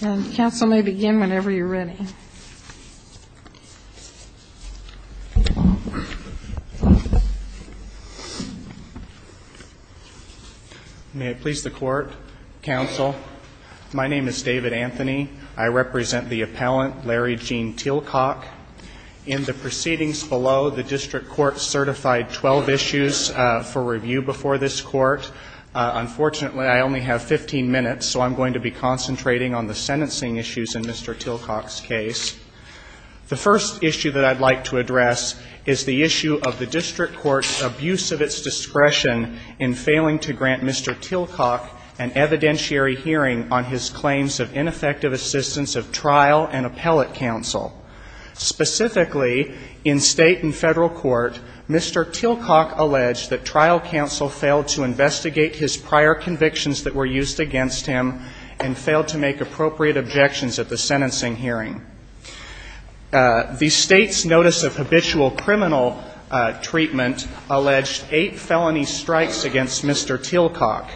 and counsel may begin whenever you're ready. May I please the court, counsel? My name is David Anthony. I represent the appellant, Larry Gene Tilcock. In the proceedings below, the district court certified 12 issues for review before this court. Unfortunately, I only have 15 minutes, so I'm going to be concentrating on the sentencing issues in Mr. Tilcock's case. The first issue that I'd like to address is the issue of the district court's abuse of its discretion in failing to grant Mr. Tilcock an evidentiary hearing on his claims of ineffective assistance of trial and appellate counsel. Specifically, in State and Federal court, Mr. Tilcock alleged that trial counsel failed to investigate his prior convictions that were used against him and failed to make appropriate objections at the sentencing hearing. The State's notice of habitual criminal treatment alleged eight felony strikes against Mr. Tilcock.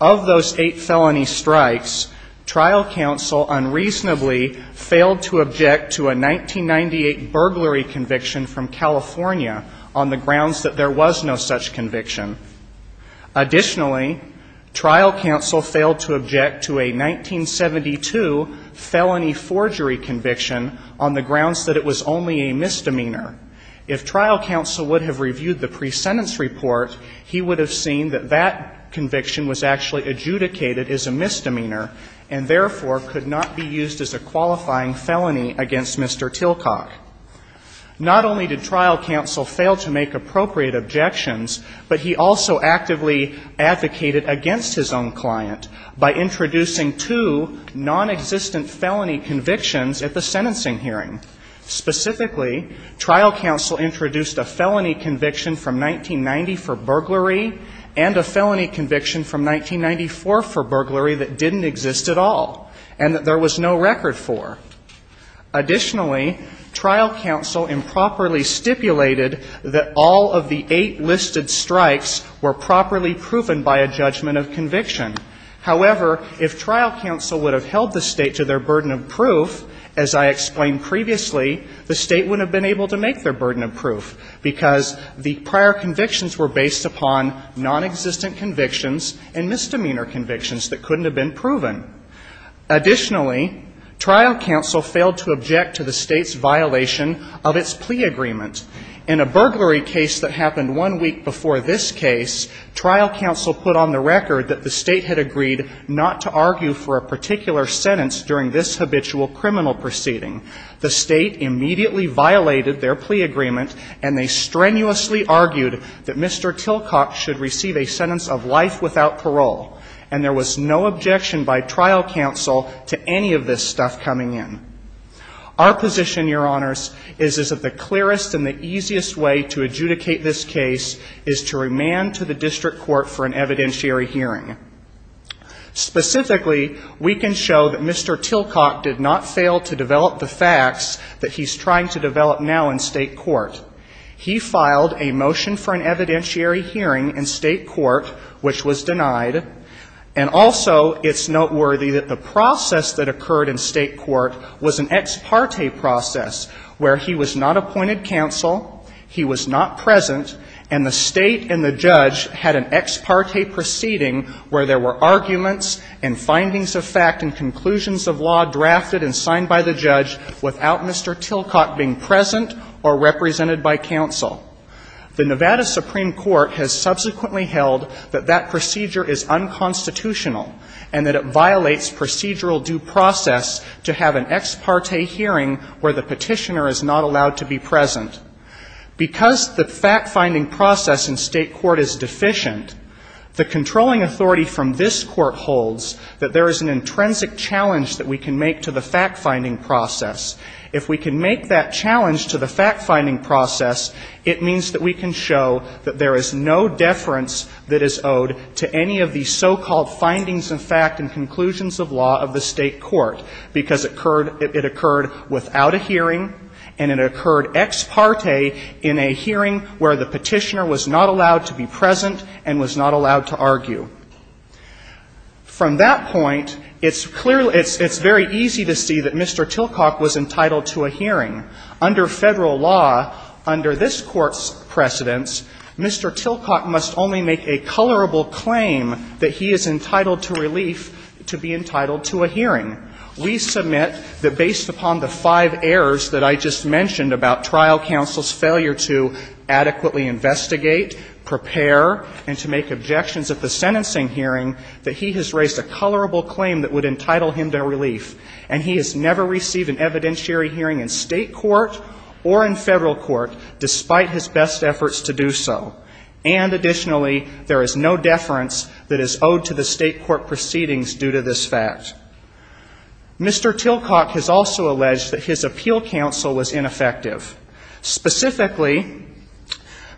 Of those eight felony strikes, trial counsel unreasonably failed to object to a 1998 burglary conviction from California on the grounds that there was no such conviction. Additionally, trial counsel failed to object to a 1972 felony forgery conviction on the grounds that it was only a misdemeanor. If trial counsel would have reviewed the pre-sentence report, he would have seen that that conviction was actually adjudicated as a misdemeanor and, therefore, could not be used as a qualifying felony against Mr. Tilcock. Not only did trial counsel fail to make appropriate objections, but he also actively advocated against his own client by introducing two nonexistent felony convictions at the sentencing hearing. Specifically, trial counsel introduced a felony conviction from 1990 for burglary and a felony conviction from 1994 for burglary that didn't exist at all and that there was no record for. Additionally, trial counsel improperly stipulated that all of the eight listed strikes were properly proven by a judgment of conviction. However, if trial counsel would have held the State to their burden of proof, as I explained previously, the State wouldn't have been able to make their burden of proof because the prior convictions were based upon nonexistent convictions and misdemeanor convictions that couldn't have been proven. Additionally, trial counsel failed to object to the State's violation of its plea agreement. In a burglary case that happened one week before this case, trial counsel put on the record that the State had agreed not to argue for a particular sentence during this habitual criminal proceeding. The State immediately violated their plea agreement, and they strenuously argued that Mr. Tilcock should receive a sentence of life without parole. And there was no objection by trial counsel to any of this stuff coming in. Our position, Your Honors, is that the clearest and the easiest way to adjudicate this case is to remand to the district court for an evidentiary hearing. Specifically, we can show that Mr. Tilcock did not fail to develop the facts that he's trying to develop now in State court. He filed a motion for an evidentiary hearing in State court, which was denied. And also, it's noteworthy that the process that occurred in State court was an ex parte process where he was not appointed counsel, he was not present, and the State and the judge had an ex parte proceeding where there were arguments and findings of fact and conclusions of law drafted and signed by the judge without Mr. Tilcock being present or represented by counsel. The Nevada Supreme Court has subsequently held that that procedure is unconstitutional and that it violates procedural due process to have an ex parte hearing where the petitioner is not allowed to be present. Because the fact-finding process in State court is deficient, the controlling authority from this Court holds that there is an intrinsic challenge that we can make to the fact-finding process. If we can make that challenge to the fact-finding process, it means that we can show that there is no deference that is owed to any of these so-called findings of fact and conclusions of law of the State court, because it occurred without a hearing and it occurred ex parte in a hearing where the petitioner was not allowed to be present and was not allowed to argue. From that point, it's very easy to see that Mr. Tilcock was entitled to a hearing. Under Federal law, under this Court's precedence, Mr. Tilcock must only make a colorable claim that he is entitled to relief to be entitled to a hearing. We submit that based upon the five errors that I just mentioned about trial counsel's ability to adequately investigate, prepare, and to make objections at the sentencing hearing, that he has raised a colorable claim that would entitle him to relief. And he has never received an evidentiary hearing in State court or in Federal court, despite his best efforts to do so. And additionally, there is no deference that is owed to the State court proceedings due to this fact. Mr. Tilcock has also alleged that his appeal counsel was ineffective. Specifically,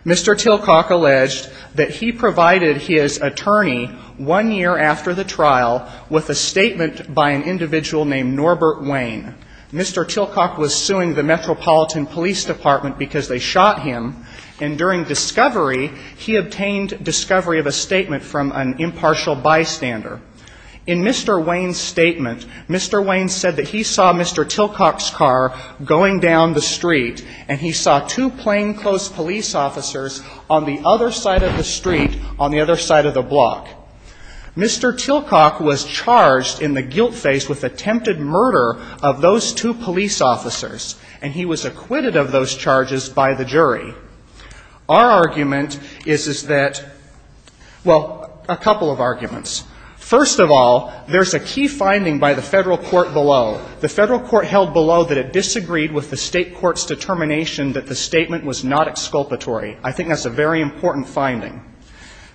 Mr. Tilcock alleged that he provided his attorney one year after the trial with a statement by an individual named Norbert Wayne. Mr. Tilcock was suing the Metropolitan Police Department because they shot him. And during discovery, he obtained discovery of a statement from an impartial bystander. In Mr. Wayne's statement, Mr. Wayne said that he saw Mr. Tilcock's car going down the street, and he saw two plainclothes police officers on the other side of the street, on the other side of the block. Mr. Tilcock was charged in the guilt phase with attempted murder of those two police officers, and he was acquitted of those charges by the jury. Our argument is that, well, a couple of arguments. First of all, there's a key finding by the Federal court below. The Federal court held below that it disagreed with the State court's determination that the statement was not exculpatory. I think that's a very important finding.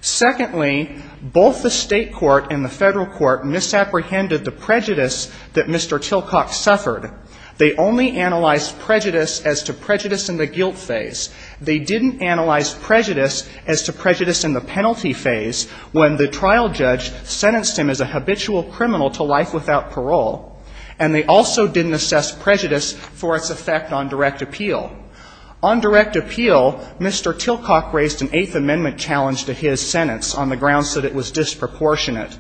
Secondly, both the State court and the Federal court misapprehended the prejudice that Mr. Tilcock suffered. They only analyzed prejudice as to prejudice in the guilt phase. They didn't analyze prejudice as to prejudice in the penalty phase when the trial judge sentenced him as a habitual criminal to life without parole. And they also didn't assess prejudice for its effect on direct appeal. On direct appeal, Mr. Tilcock raised an Eighth Amendment challenge to his sentence on the grounds that it was disproportionate.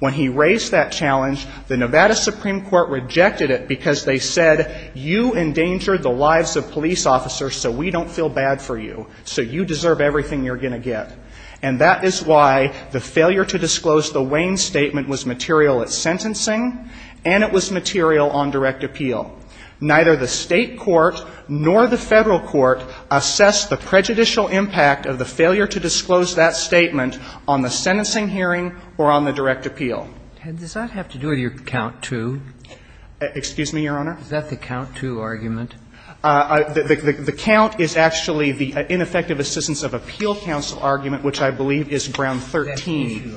When he raised that challenge, the Nevada Supreme Court rejected it because they said, you endanger the lives of police officers so we don't feel bad for you, so you deserve everything you're going to get. And that is why the failure to disclose the Wayne statement was material at sentencing and it was material on direct appeal. Neither the State court nor the Federal court assessed the prejudicial impact of the failure to disclose that statement on the sentencing hearing or on the direct appeal. Kennedy, does that have to do with your count two? Excuse me, Your Honor? Is that the count two argument? The count is actually the ineffective assistance of appeal counsel argument, which I believe is ground 13.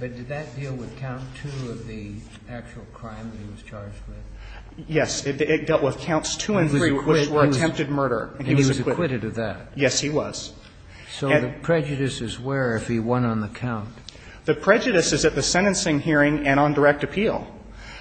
But did that deal with count two of the actual crime that he was charged with? Yes. It dealt with counts two and three which were attempted murder. And he was acquitted of that? Yes, he was. So the prejudice is where if he won on the count? The prejudice is at the sentencing hearing and on direct appeal.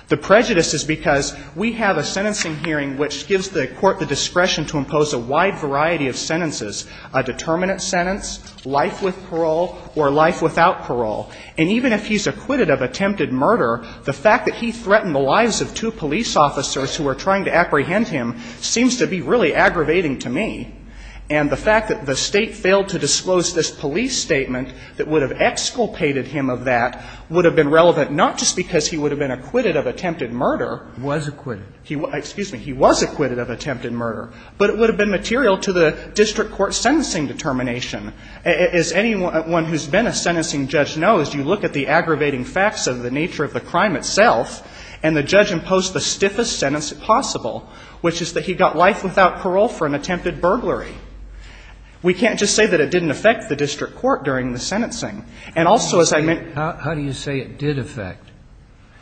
The prejudice is because we have a sentencing hearing which gives the court the discretion to impose a wide variety of sentences, a determinant sentence, life with parole or life without parole. And even if he's acquitted of attempted murder, the fact that he threatened the lives of two police officers who were trying to apprehend him seems to be really aggravating to me. And the fact that the State failed to disclose this police statement that would have exculpated him of that would have been relevant not just because he would have been acquitted of attempted murder. Was acquitted. Excuse me. He was acquitted of attempted murder. But it would have been material to the district court's sentencing determination. As anyone who's been a sentencing judge knows, you look at the aggravating facts of the nature of the crime itself, and the judge imposed the stiffest sentence possible, which is that he got life without parole for an attempted burglary. We can't just say that it didn't affect the district court during the sentencing. And also, as I meant to say. How do you say it did affect?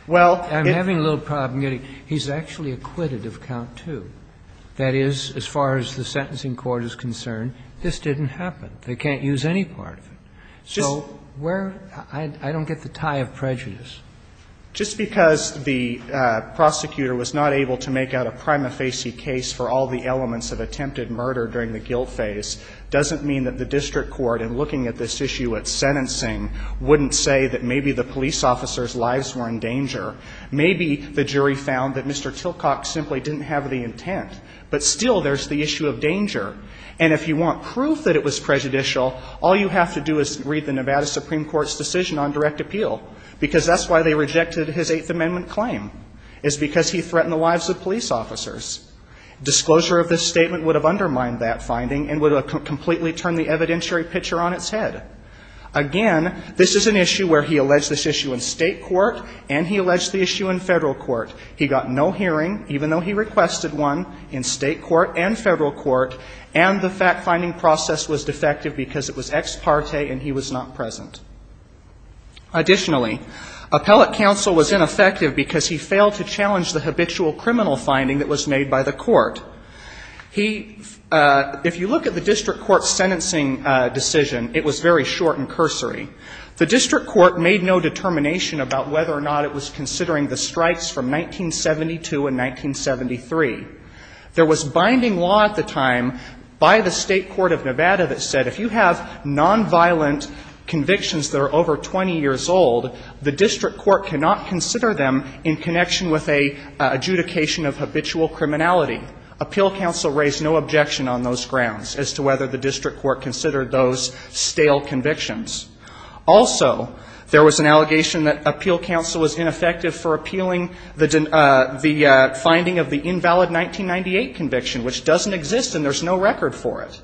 Well, it. I'm having a little problem getting. He's actually acquitted of count two. That is, as far as the sentencing court is concerned, this didn't happen. They can't use any part of it. So where? I don't get the tie of prejudice. Just because the prosecutor was not able to make out a prima facie case for all the elements of attempted murder during the guilt phase doesn't mean that the district court, in looking at this issue at sentencing, wouldn't say that maybe the police officers' lives were in danger. Maybe the jury found that Mr. Tilcock simply didn't have the intent. But still, there's the issue of danger. And if you want proof that it was prejudicial, all you have to do is read the Nevada Supreme Court's decision on direct appeal, because that's why they rejected his Eighth Amendment claim, is because he threatened the lives of police officers. Disclosure of this statement would have undermined that finding and would have completely turned the evidentiary picture on its head. Again, this is an issue where he alleged this issue in state court, and he alleged the issue in federal court. He got no hearing, even though he requested one, in state court and federal court, and the fact-finding process was defective because it was ex parte and he was not present. Additionally, appellate counsel was ineffective because he failed to challenge the habitual criminal finding that was made by the court. He – if you look at the district court's sentencing decision, it was very clear and very short and cursory. The district court made no determination about whether or not it was considering the strikes from 1972 and 1973. There was binding law at the time by the State Court of Nevada that said if you have nonviolent convictions that are over 20 years old, the district court cannot consider them in connection with a adjudication of habitual criminality. Appeal counsel raised no objection on those grounds as to whether the district court considered those stale convictions. Also, there was an allegation that appeal counsel was ineffective for appealing the – the finding of the invalid 1998 conviction, which doesn't exist and there's no record for it.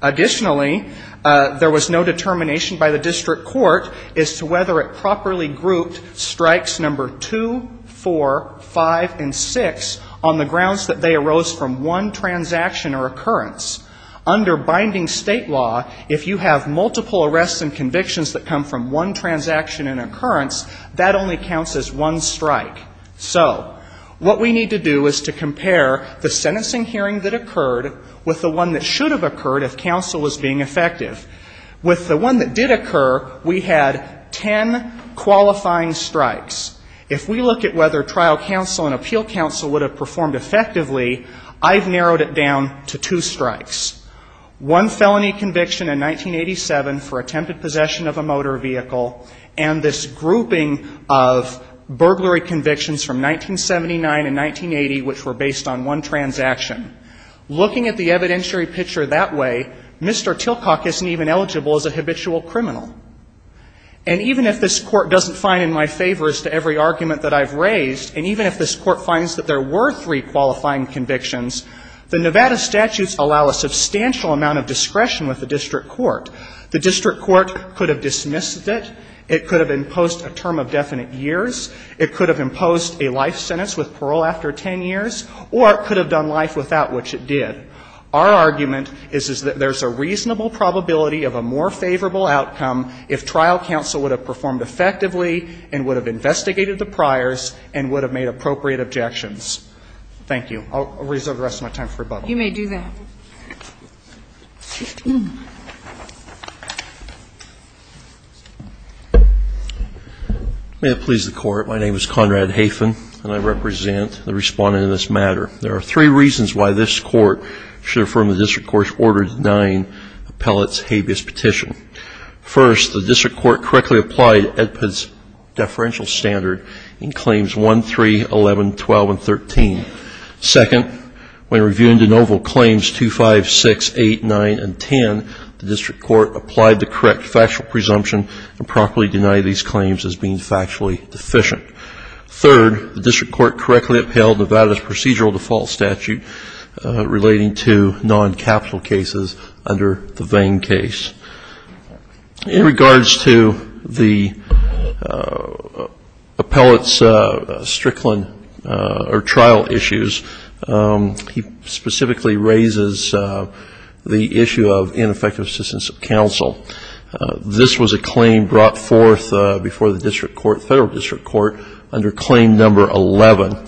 Additionally, there was no determination by the district court as to whether it properly grouped strikes number 2, 4, 5, and 6 on the grounds that they arose from one transaction or occurrence. Under binding State law, if you have multiple arrests and convictions that come from one transaction and occurrence, that only counts as one strike. So what we need to do is to compare the sentencing hearing that occurred with the one that should have occurred if counsel was being effective. With the one that did occur, we had ten qualifying strikes. If we look at whether trial counsel and appeal counsel would have performed effectively, I've narrowed it down to two strikes. One felony conviction in 1987 for attempted possession of a motor vehicle and this grouping of burglary convictions from 1979 and 1980, which were based on one transaction. Looking at the evidentiary picture that way, Mr. Tilcock isn't even eligible as a habitual criminal. And even if this Court doesn't find in my favor as to every argument that I've raised, and even if this Court finds that there were three qualifying convictions, the Nevada statutes allow a substantial amount of discretion with the district court. The district court could have dismissed it, it could have imposed a term of definite years, it could have imposed a life sentence with parole after ten years, or it could have done life without which it did. Our argument is that there's a reasonable probability of a more favorable outcome if trial counsel would have performed effectively and would have investigated the priors and would have made appropriate objections. Thank you. I'll reserve the rest of my time for rebuttal. You may do that. May it please the Court. My name is Conrad Hafen, and I represent the Respondent in this matter. There are three reasons why this Court should affirm the district court's Order 109 appellate's habeas petition. First, the district court correctly applied EDPA's deferential standard in Claims 1, 3, 11, 12, and 13. Second, when reviewing de novo Claims 2, 5, 6, 8, 9, and 10, the district court applied the correct factual presumption and promptly denied these claims as being factually deficient. Third, the district court correctly upheld Nevada's procedural default statute relating to non-capital cases under the Vane case. In regards to the appellate's Strickland or trial issues, he specifically raises the issue of ineffective assistance of counsel. This was a claim brought forth before the district court, federal district court, under Claim Number 11.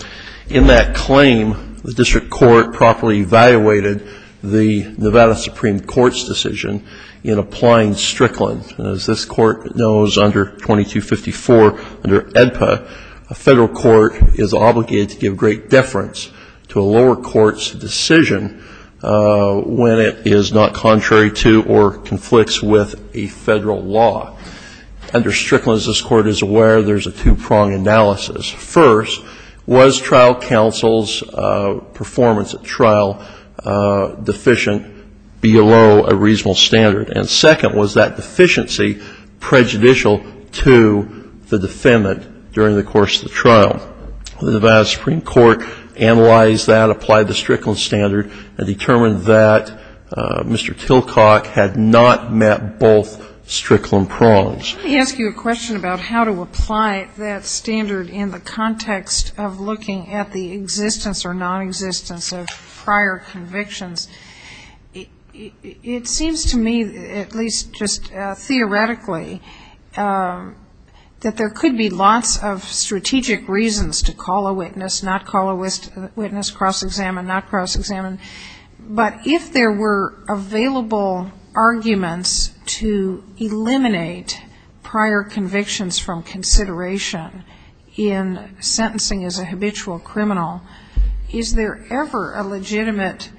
In that claim, the district court properly evaluated the Nevada Supreme Court's decision in applying Strickland. As this Court knows under 2254 under EDPA, a federal court is obligated to give great deference to a lower court's decision when it is not contrary to or conflicts with a federal law. Under Strickland, as this Court is aware, there's a two-prong analysis. First, was trial counsel's performance at trial deficient below a reasonable standard? And second, was that deficiency prejudicial to the defendant during the course of the trial? The Nevada Supreme Court analyzed that, applied the Strickland standard, and determined that Mr. Tilcock had not met both Strickland prongs. Let me ask you a question about how to apply that standard in the context of looking at the existence or nonexistence of prior convictions. It seems to me, at least just theoretically, that there could be lots of strategic reasons to call a witness, not call a witness, cross-examine, not cross-examine. But if there were available arguments to eliminate prior convictions from consideration in sentencing as a habitual criminal, is there ever a legitimate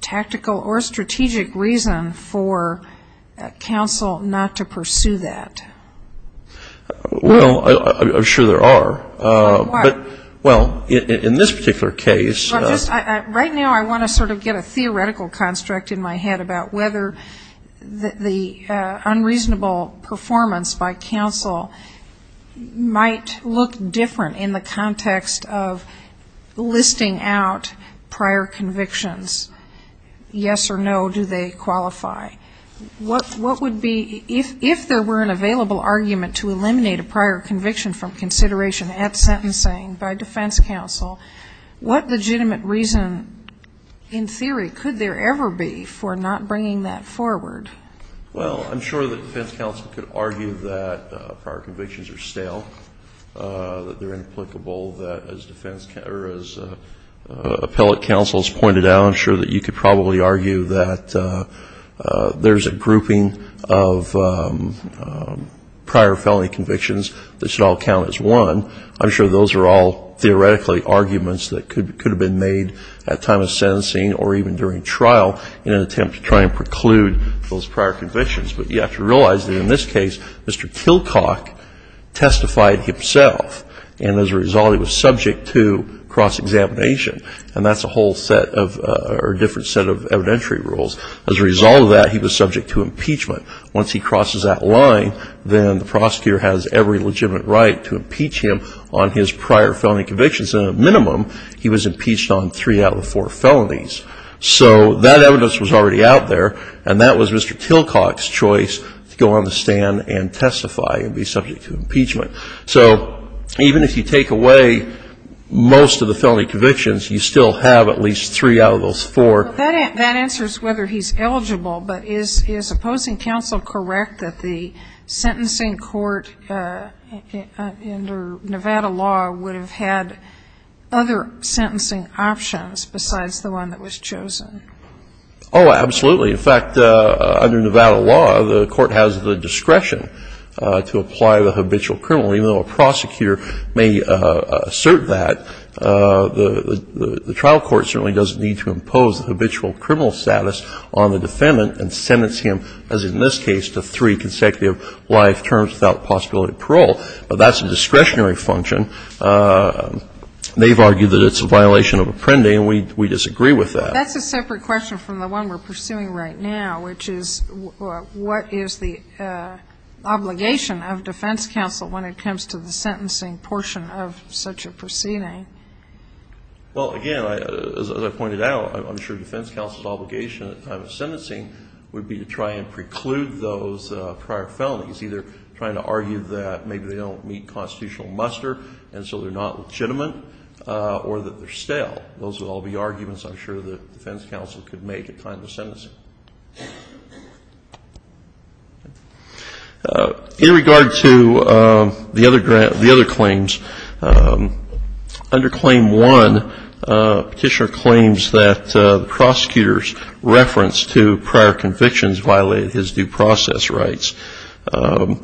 tactical or strategic reason for counsel not to pursue that? Well, I'm sure there are. Why? Well, in this particular case. Right now, I want to sort of get a theoretical construct in my head about whether the unreasonable performance by counsel might look different in the context of listing out prior convictions, yes or no, do they qualify. What would be, if there were an available argument to eliminate a prior conviction from consideration at sentencing by defense counsel, what legitimate reason in theory could there ever be for not bringing that forward? Well, I'm sure that defense counsel could argue that prior convictions are stale, that they're inapplicable, that as appellate counsel has pointed out, I'm sure that you could probably argue that there's a grouping of prior felony convictions that should all count as one. I'm sure those are all theoretically arguments that could have been made at time of sentencing or even during trial in an attempt to try and preclude those prior convictions. But you have to realize that in this case, Mr. Kilcock testified himself, and as a result he was subject to cross-examination. And that's a whole set of, or a different set of evidentiary rules. As a result of that, he was subject to impeachment. Once he crosses that line, then the prosecutor has every legitimate right to impeach him on his prior felony convictions, and at a minimum he was impeached on three out of four felonies. So that evidence was already out there, and that was Mr. Kilcock's choice to go on the stand and testify and be subject to impeachment. So even if you take away most of the felony convictions, you still have at least three out of those four. That answers whether he's eligible, but is opposing counsel correct that the sentencing court under Nevada law would have had other sentencing options besides the one that was chosen? Oh, absolutely. In fact, under Nevada law, the court has the discretion to apply the habitual criminal. Even though a prosecutor may assert that, the trial court certainly doesn't need to impose the habitual criminal status on the defendant and sentence him, as in this case, to three consecutive life terms without the possibility of parole. But that's a discretionary function. They've argued that it's a violation of Apprendi, and we disagree with that. That's a separate question from the one we're pursuing right now, which is what is the obligation of defense counsel when it comes to the sentencing portion of such a proceeding? Well, again, as I pointed out, I'm sure defense counsel's obligation at the time of sentencing would be to try and preclude those prior felonies, either trying to argue that maybe they don't meet constitutional muster and so they're not legitimate or that they're stale. Those would all be arguments I'm sure that defense counsel could make at time of sentencing. In regard to the other claims, under Claim 1, Petitioner claims that the prosecutor's reference to prior convictions violated his due process rights. The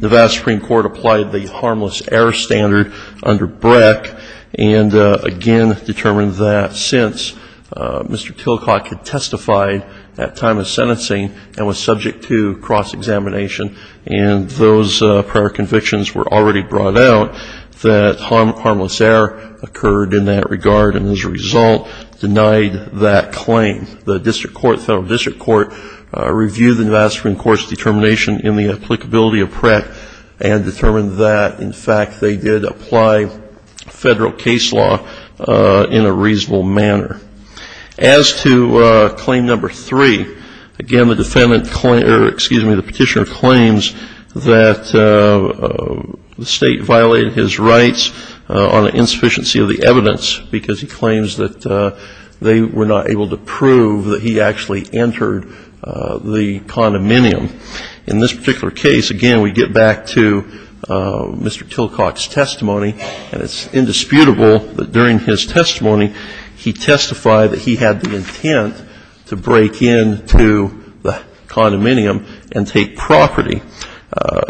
Nevada Supreme Court applied the harmless error standard under Breck, and again determined that since Mr. Tillcock had testified at time of sentencing and was subject to cross-examination and those prior convictions were already brought out, that harmless error occurred in that regard, and as a result denied that claim. The district court, federal district court, reviewed the Nevada Supreme Court's determination in the applicability of Breck and determined that, in fact, they did apply federal case law in a reasonable manner. As to Claim 3, again, the petitioner claims that the state violated his rights on the insufficiency of the evidence because he claims that they were not able to prove that he actually entered the condominium. In this particular case, again, we get back to Mr. Tillcock's testimony, and it's indisputable that during his testimony he testified that he had the intent to break into the condominium and take property.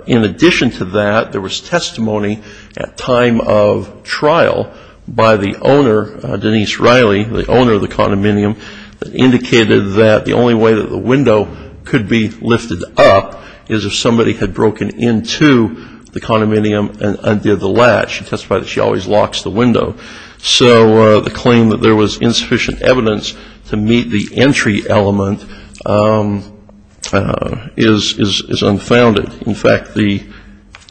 In addition to that, there was testimony at time of trial by the owner, Denise Riley, the owner of the condominium that indicated that the only way that the window could be lifted up is if somebody had broken into the condominium and undid the latch. She testified that she always locks the window. So the claim that there was insufficient evidence to meet the entry element is unfounded. In fact, the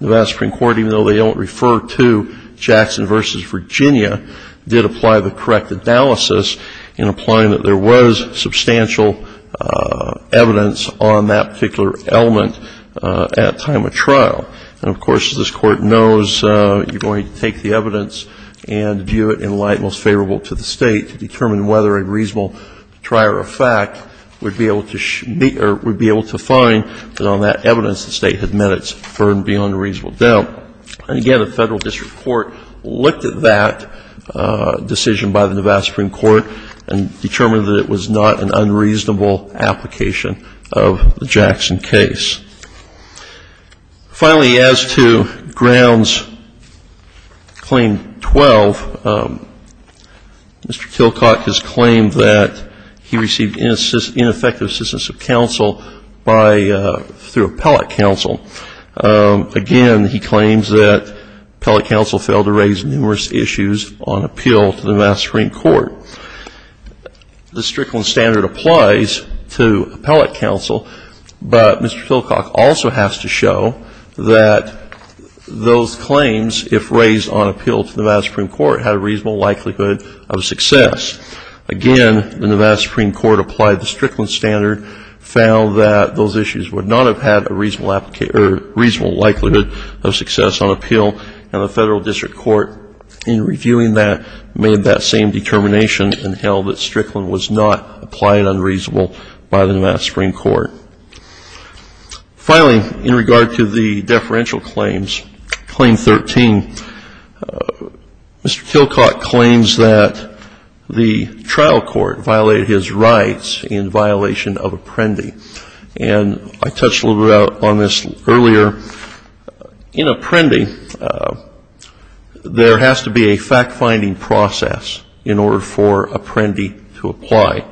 Nevada Supreme Court, even though they don't refer to Jackson v. Virginia, did apply the correct analysis in applying that there was substantial evidence on that particular element at time of trial. And, of course, this Court knows you're going to take the evidence and view it in light most favorable to the State to determine whether a reasonable trier of fact would be able to find that on that evidence the State had met its burden beyond a reasonable doubt. And, again, the Federal District Court looked at that decision by the Nevada Supreme Court and determined that it was not an unreasonable application of the Jackson case. Finally, as to Grounds Claim 12, Mr. Kilcock has claimed that he received ineffective assistance of counsel through appellate counsel. Again, he claims that appellate counsel failed to raise numerous issues on appeal to the Nevada Supreme Court. The Strickland Standard applies to appellate counsel, but Mr. Kilcock also has to show that those claims, if raised on appeal to the Nevada Supreme Court, had a reasonable likelihood of success. Again, when the Nevada Supreme Court applied the Strickland Standard, found that those issues would not have had a reasonable likelihood of success on appeal, and the Federal District Court, in reviewing that, made that same determination and held that Strickland was not applying unreasonable by the Nevada Supreme Court. Finally, in regard to the deferential claims, Claim 13, Mr. Kilcock claims that the trial court violated his rights in violation of Apprendi. And I touched a little bit on this earlier. In Apprendi, there has to be a fact-finding process in order for Apprendi to apply.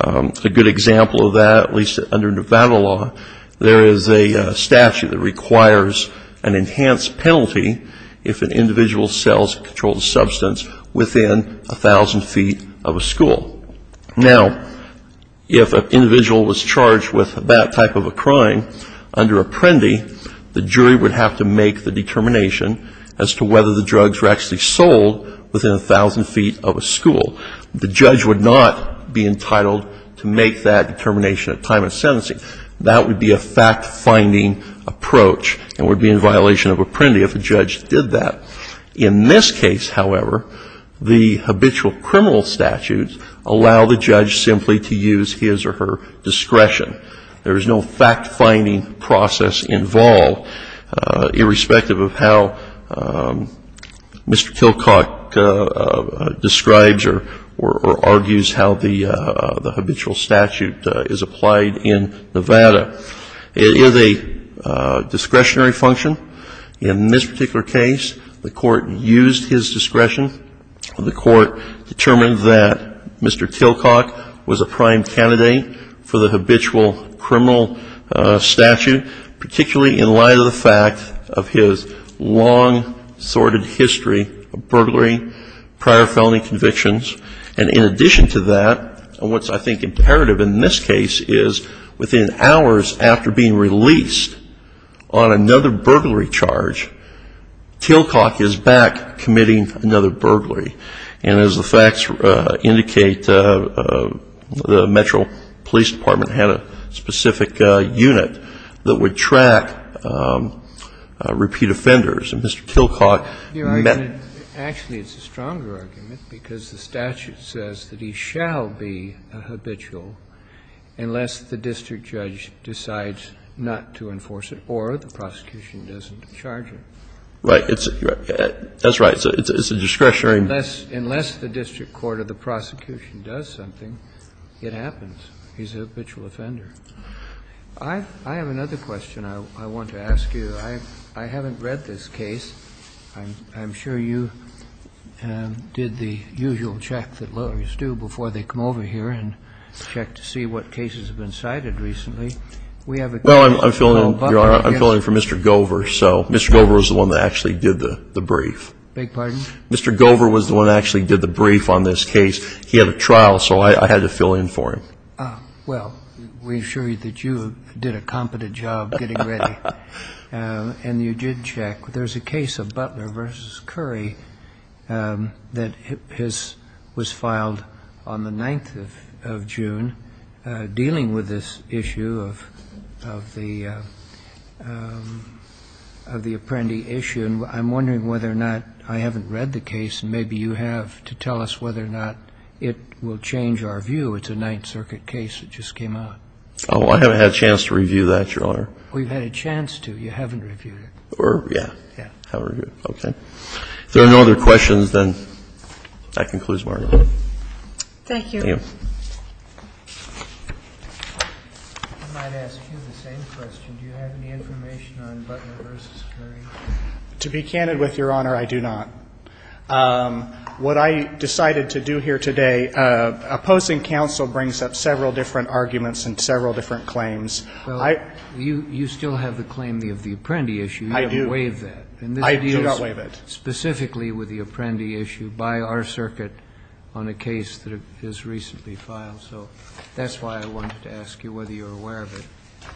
A good example of that, at least under Nevada law, there is a statute that requires an enhanced penalty if an individual sells a controlled substance within 1,000 feet of a school. Now, if an individual was charged with that type of a crime under Apprendi, the jury would have to make the determination as to whether the drugs were actually sold within 1,000 feet of a school. The judge would not be entitled to make that determination at time of sentencing. That would be a fact-finding approach and would be in violation of Apprendi if a judge did that. In this case, however, the habitual criminal statutes allow the judge simply to use his or her discretion. There is no fact-finding process involved, irrespective of how Mr. Kilcock describes or argues how the habitual statute is applied in Nevada. It is a discretionary function. In this particular case, the court used his discretion. The court determined that Mr. Kilcock was a prime candidate for the habitual criminal statute, particularly in light of the fact of his long sordid history of burglary, prior felony convictions. And in addition to that, what's I think imperative in this case is within hours after being released on another burglary charge, Kilcock is back committing another burglary. And as the facts indicate, the Metro Police Department had a specific unit that would track repeat offenders. And Mr. Kilcock met them. Kennedy. Actually, it's a stronger argument because the statute says that he shall be a habitual unless the district judge decides not to enforce it or the prosecution doesn't charge him. Right. That's right. It's a discretionary. Unless the district court or the prosecution does something, it happens. He's a habitual offender. I have another question I want to ask you. I haven't read this case. I'm sure you did the usual check that lawyers do before they come over here and check to see what cases have been cited recently. Well, I'm filling in for Mr. Gover, so Mr. Gover was the one that actually did the brief. Beg your pardon? Mr. Gover was the one that actually did the brief on this case. He had a trial, so I had to fill in for him. Well, we assure you that you did a competent job getting ready. And you did check. There's a case of Butler v. Curry that was filed on the 9th of June, dealing with this issue of the Apprendi issue, and I'm wondering whether or not I haven't read the case, and maybe you have, to tell us whether or not it will change our view. It's a Ninth Circuit case that just came out. We've had a chance to. You haven't reviewed it. Yeah. I haven't reviewed it. Okay. If there are no other questions, then that concludes my report. Thank you. Thank you. I might ask you the same question. Do you have any information on Butler v. Curry? To be candid with Your Honor, I do not. What I decided to do here today, opposing counsel brings up several different arguments and several different claims. Well, you still have the claim of the Apprendi issue. You haven't waived that. I do not waive it. And this deals specifically with the Apprendi issue by our circuit on a case that has recently filed. So that's why I wanted to ask you whether you're aware of it.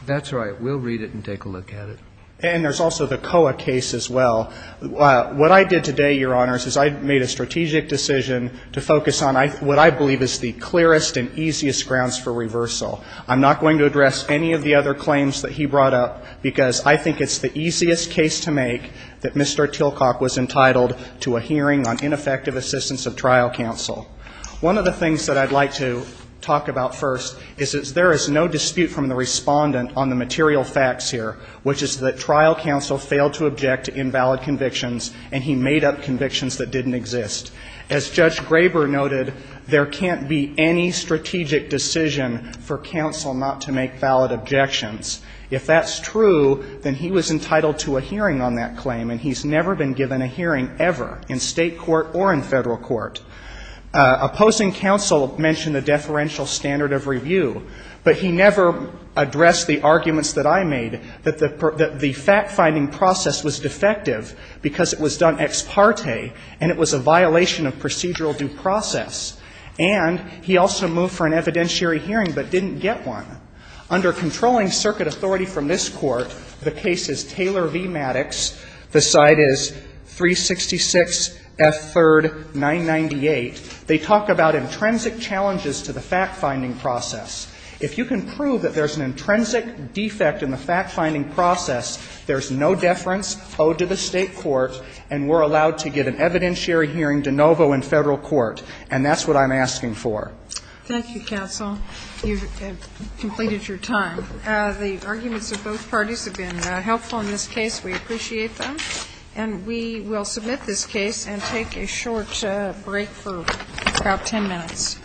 That's all right. We'll read it and take a look at it. And there's also the COA case as well. What I did today, Your Honors, is I made a strategic decision to focus on what I believe is the clearest and easiest grounds for reversal. I'm not going to address any of the other claims that he brought up, because I think it's the easiest case to make that Mr. Tillcock was entitled to a hearing on ineffective assistance of trial counsel. One of the things that I'd like to talk about first is that there is no dispute from the respondent on the material facts here, which is that trial counsel failed to object to invalid convictions, and he made up convictions that didn't exist. As Judge Graber noted, there can't be any strategic decision for counsel not to make valid objections. If that's true, then he was entitled to a hearing on that claim, and he's never been given a hearing ever in State court or in Federal court. Opposing counsel mentioned the deferential standard of review, but he never addressed the arguments that I made, that the fact-finding process was defective because it was done ex parte, and it was a violation of procedural due process. And he also moved for an evidentiary hearing but didn't get one. Under controlling circuit authority from this Court, the case is Taylor v. Maddox. The side is 366 F. 3rd 998. They talk about intrinsic challenges to the fact-finding process. If you can prove that there's an intrinsic defect in the fact-finding process, there's no deference owed to the State court, and we're allowed to get an evidentiary hearing de novo in Federal court. And that's what I'm asking for. Thank you, counsel. You've completed your time. The arguments of both parties have been helpful in this case. We appreciate them. And we will submit this case and take a short break for about 10 minutes.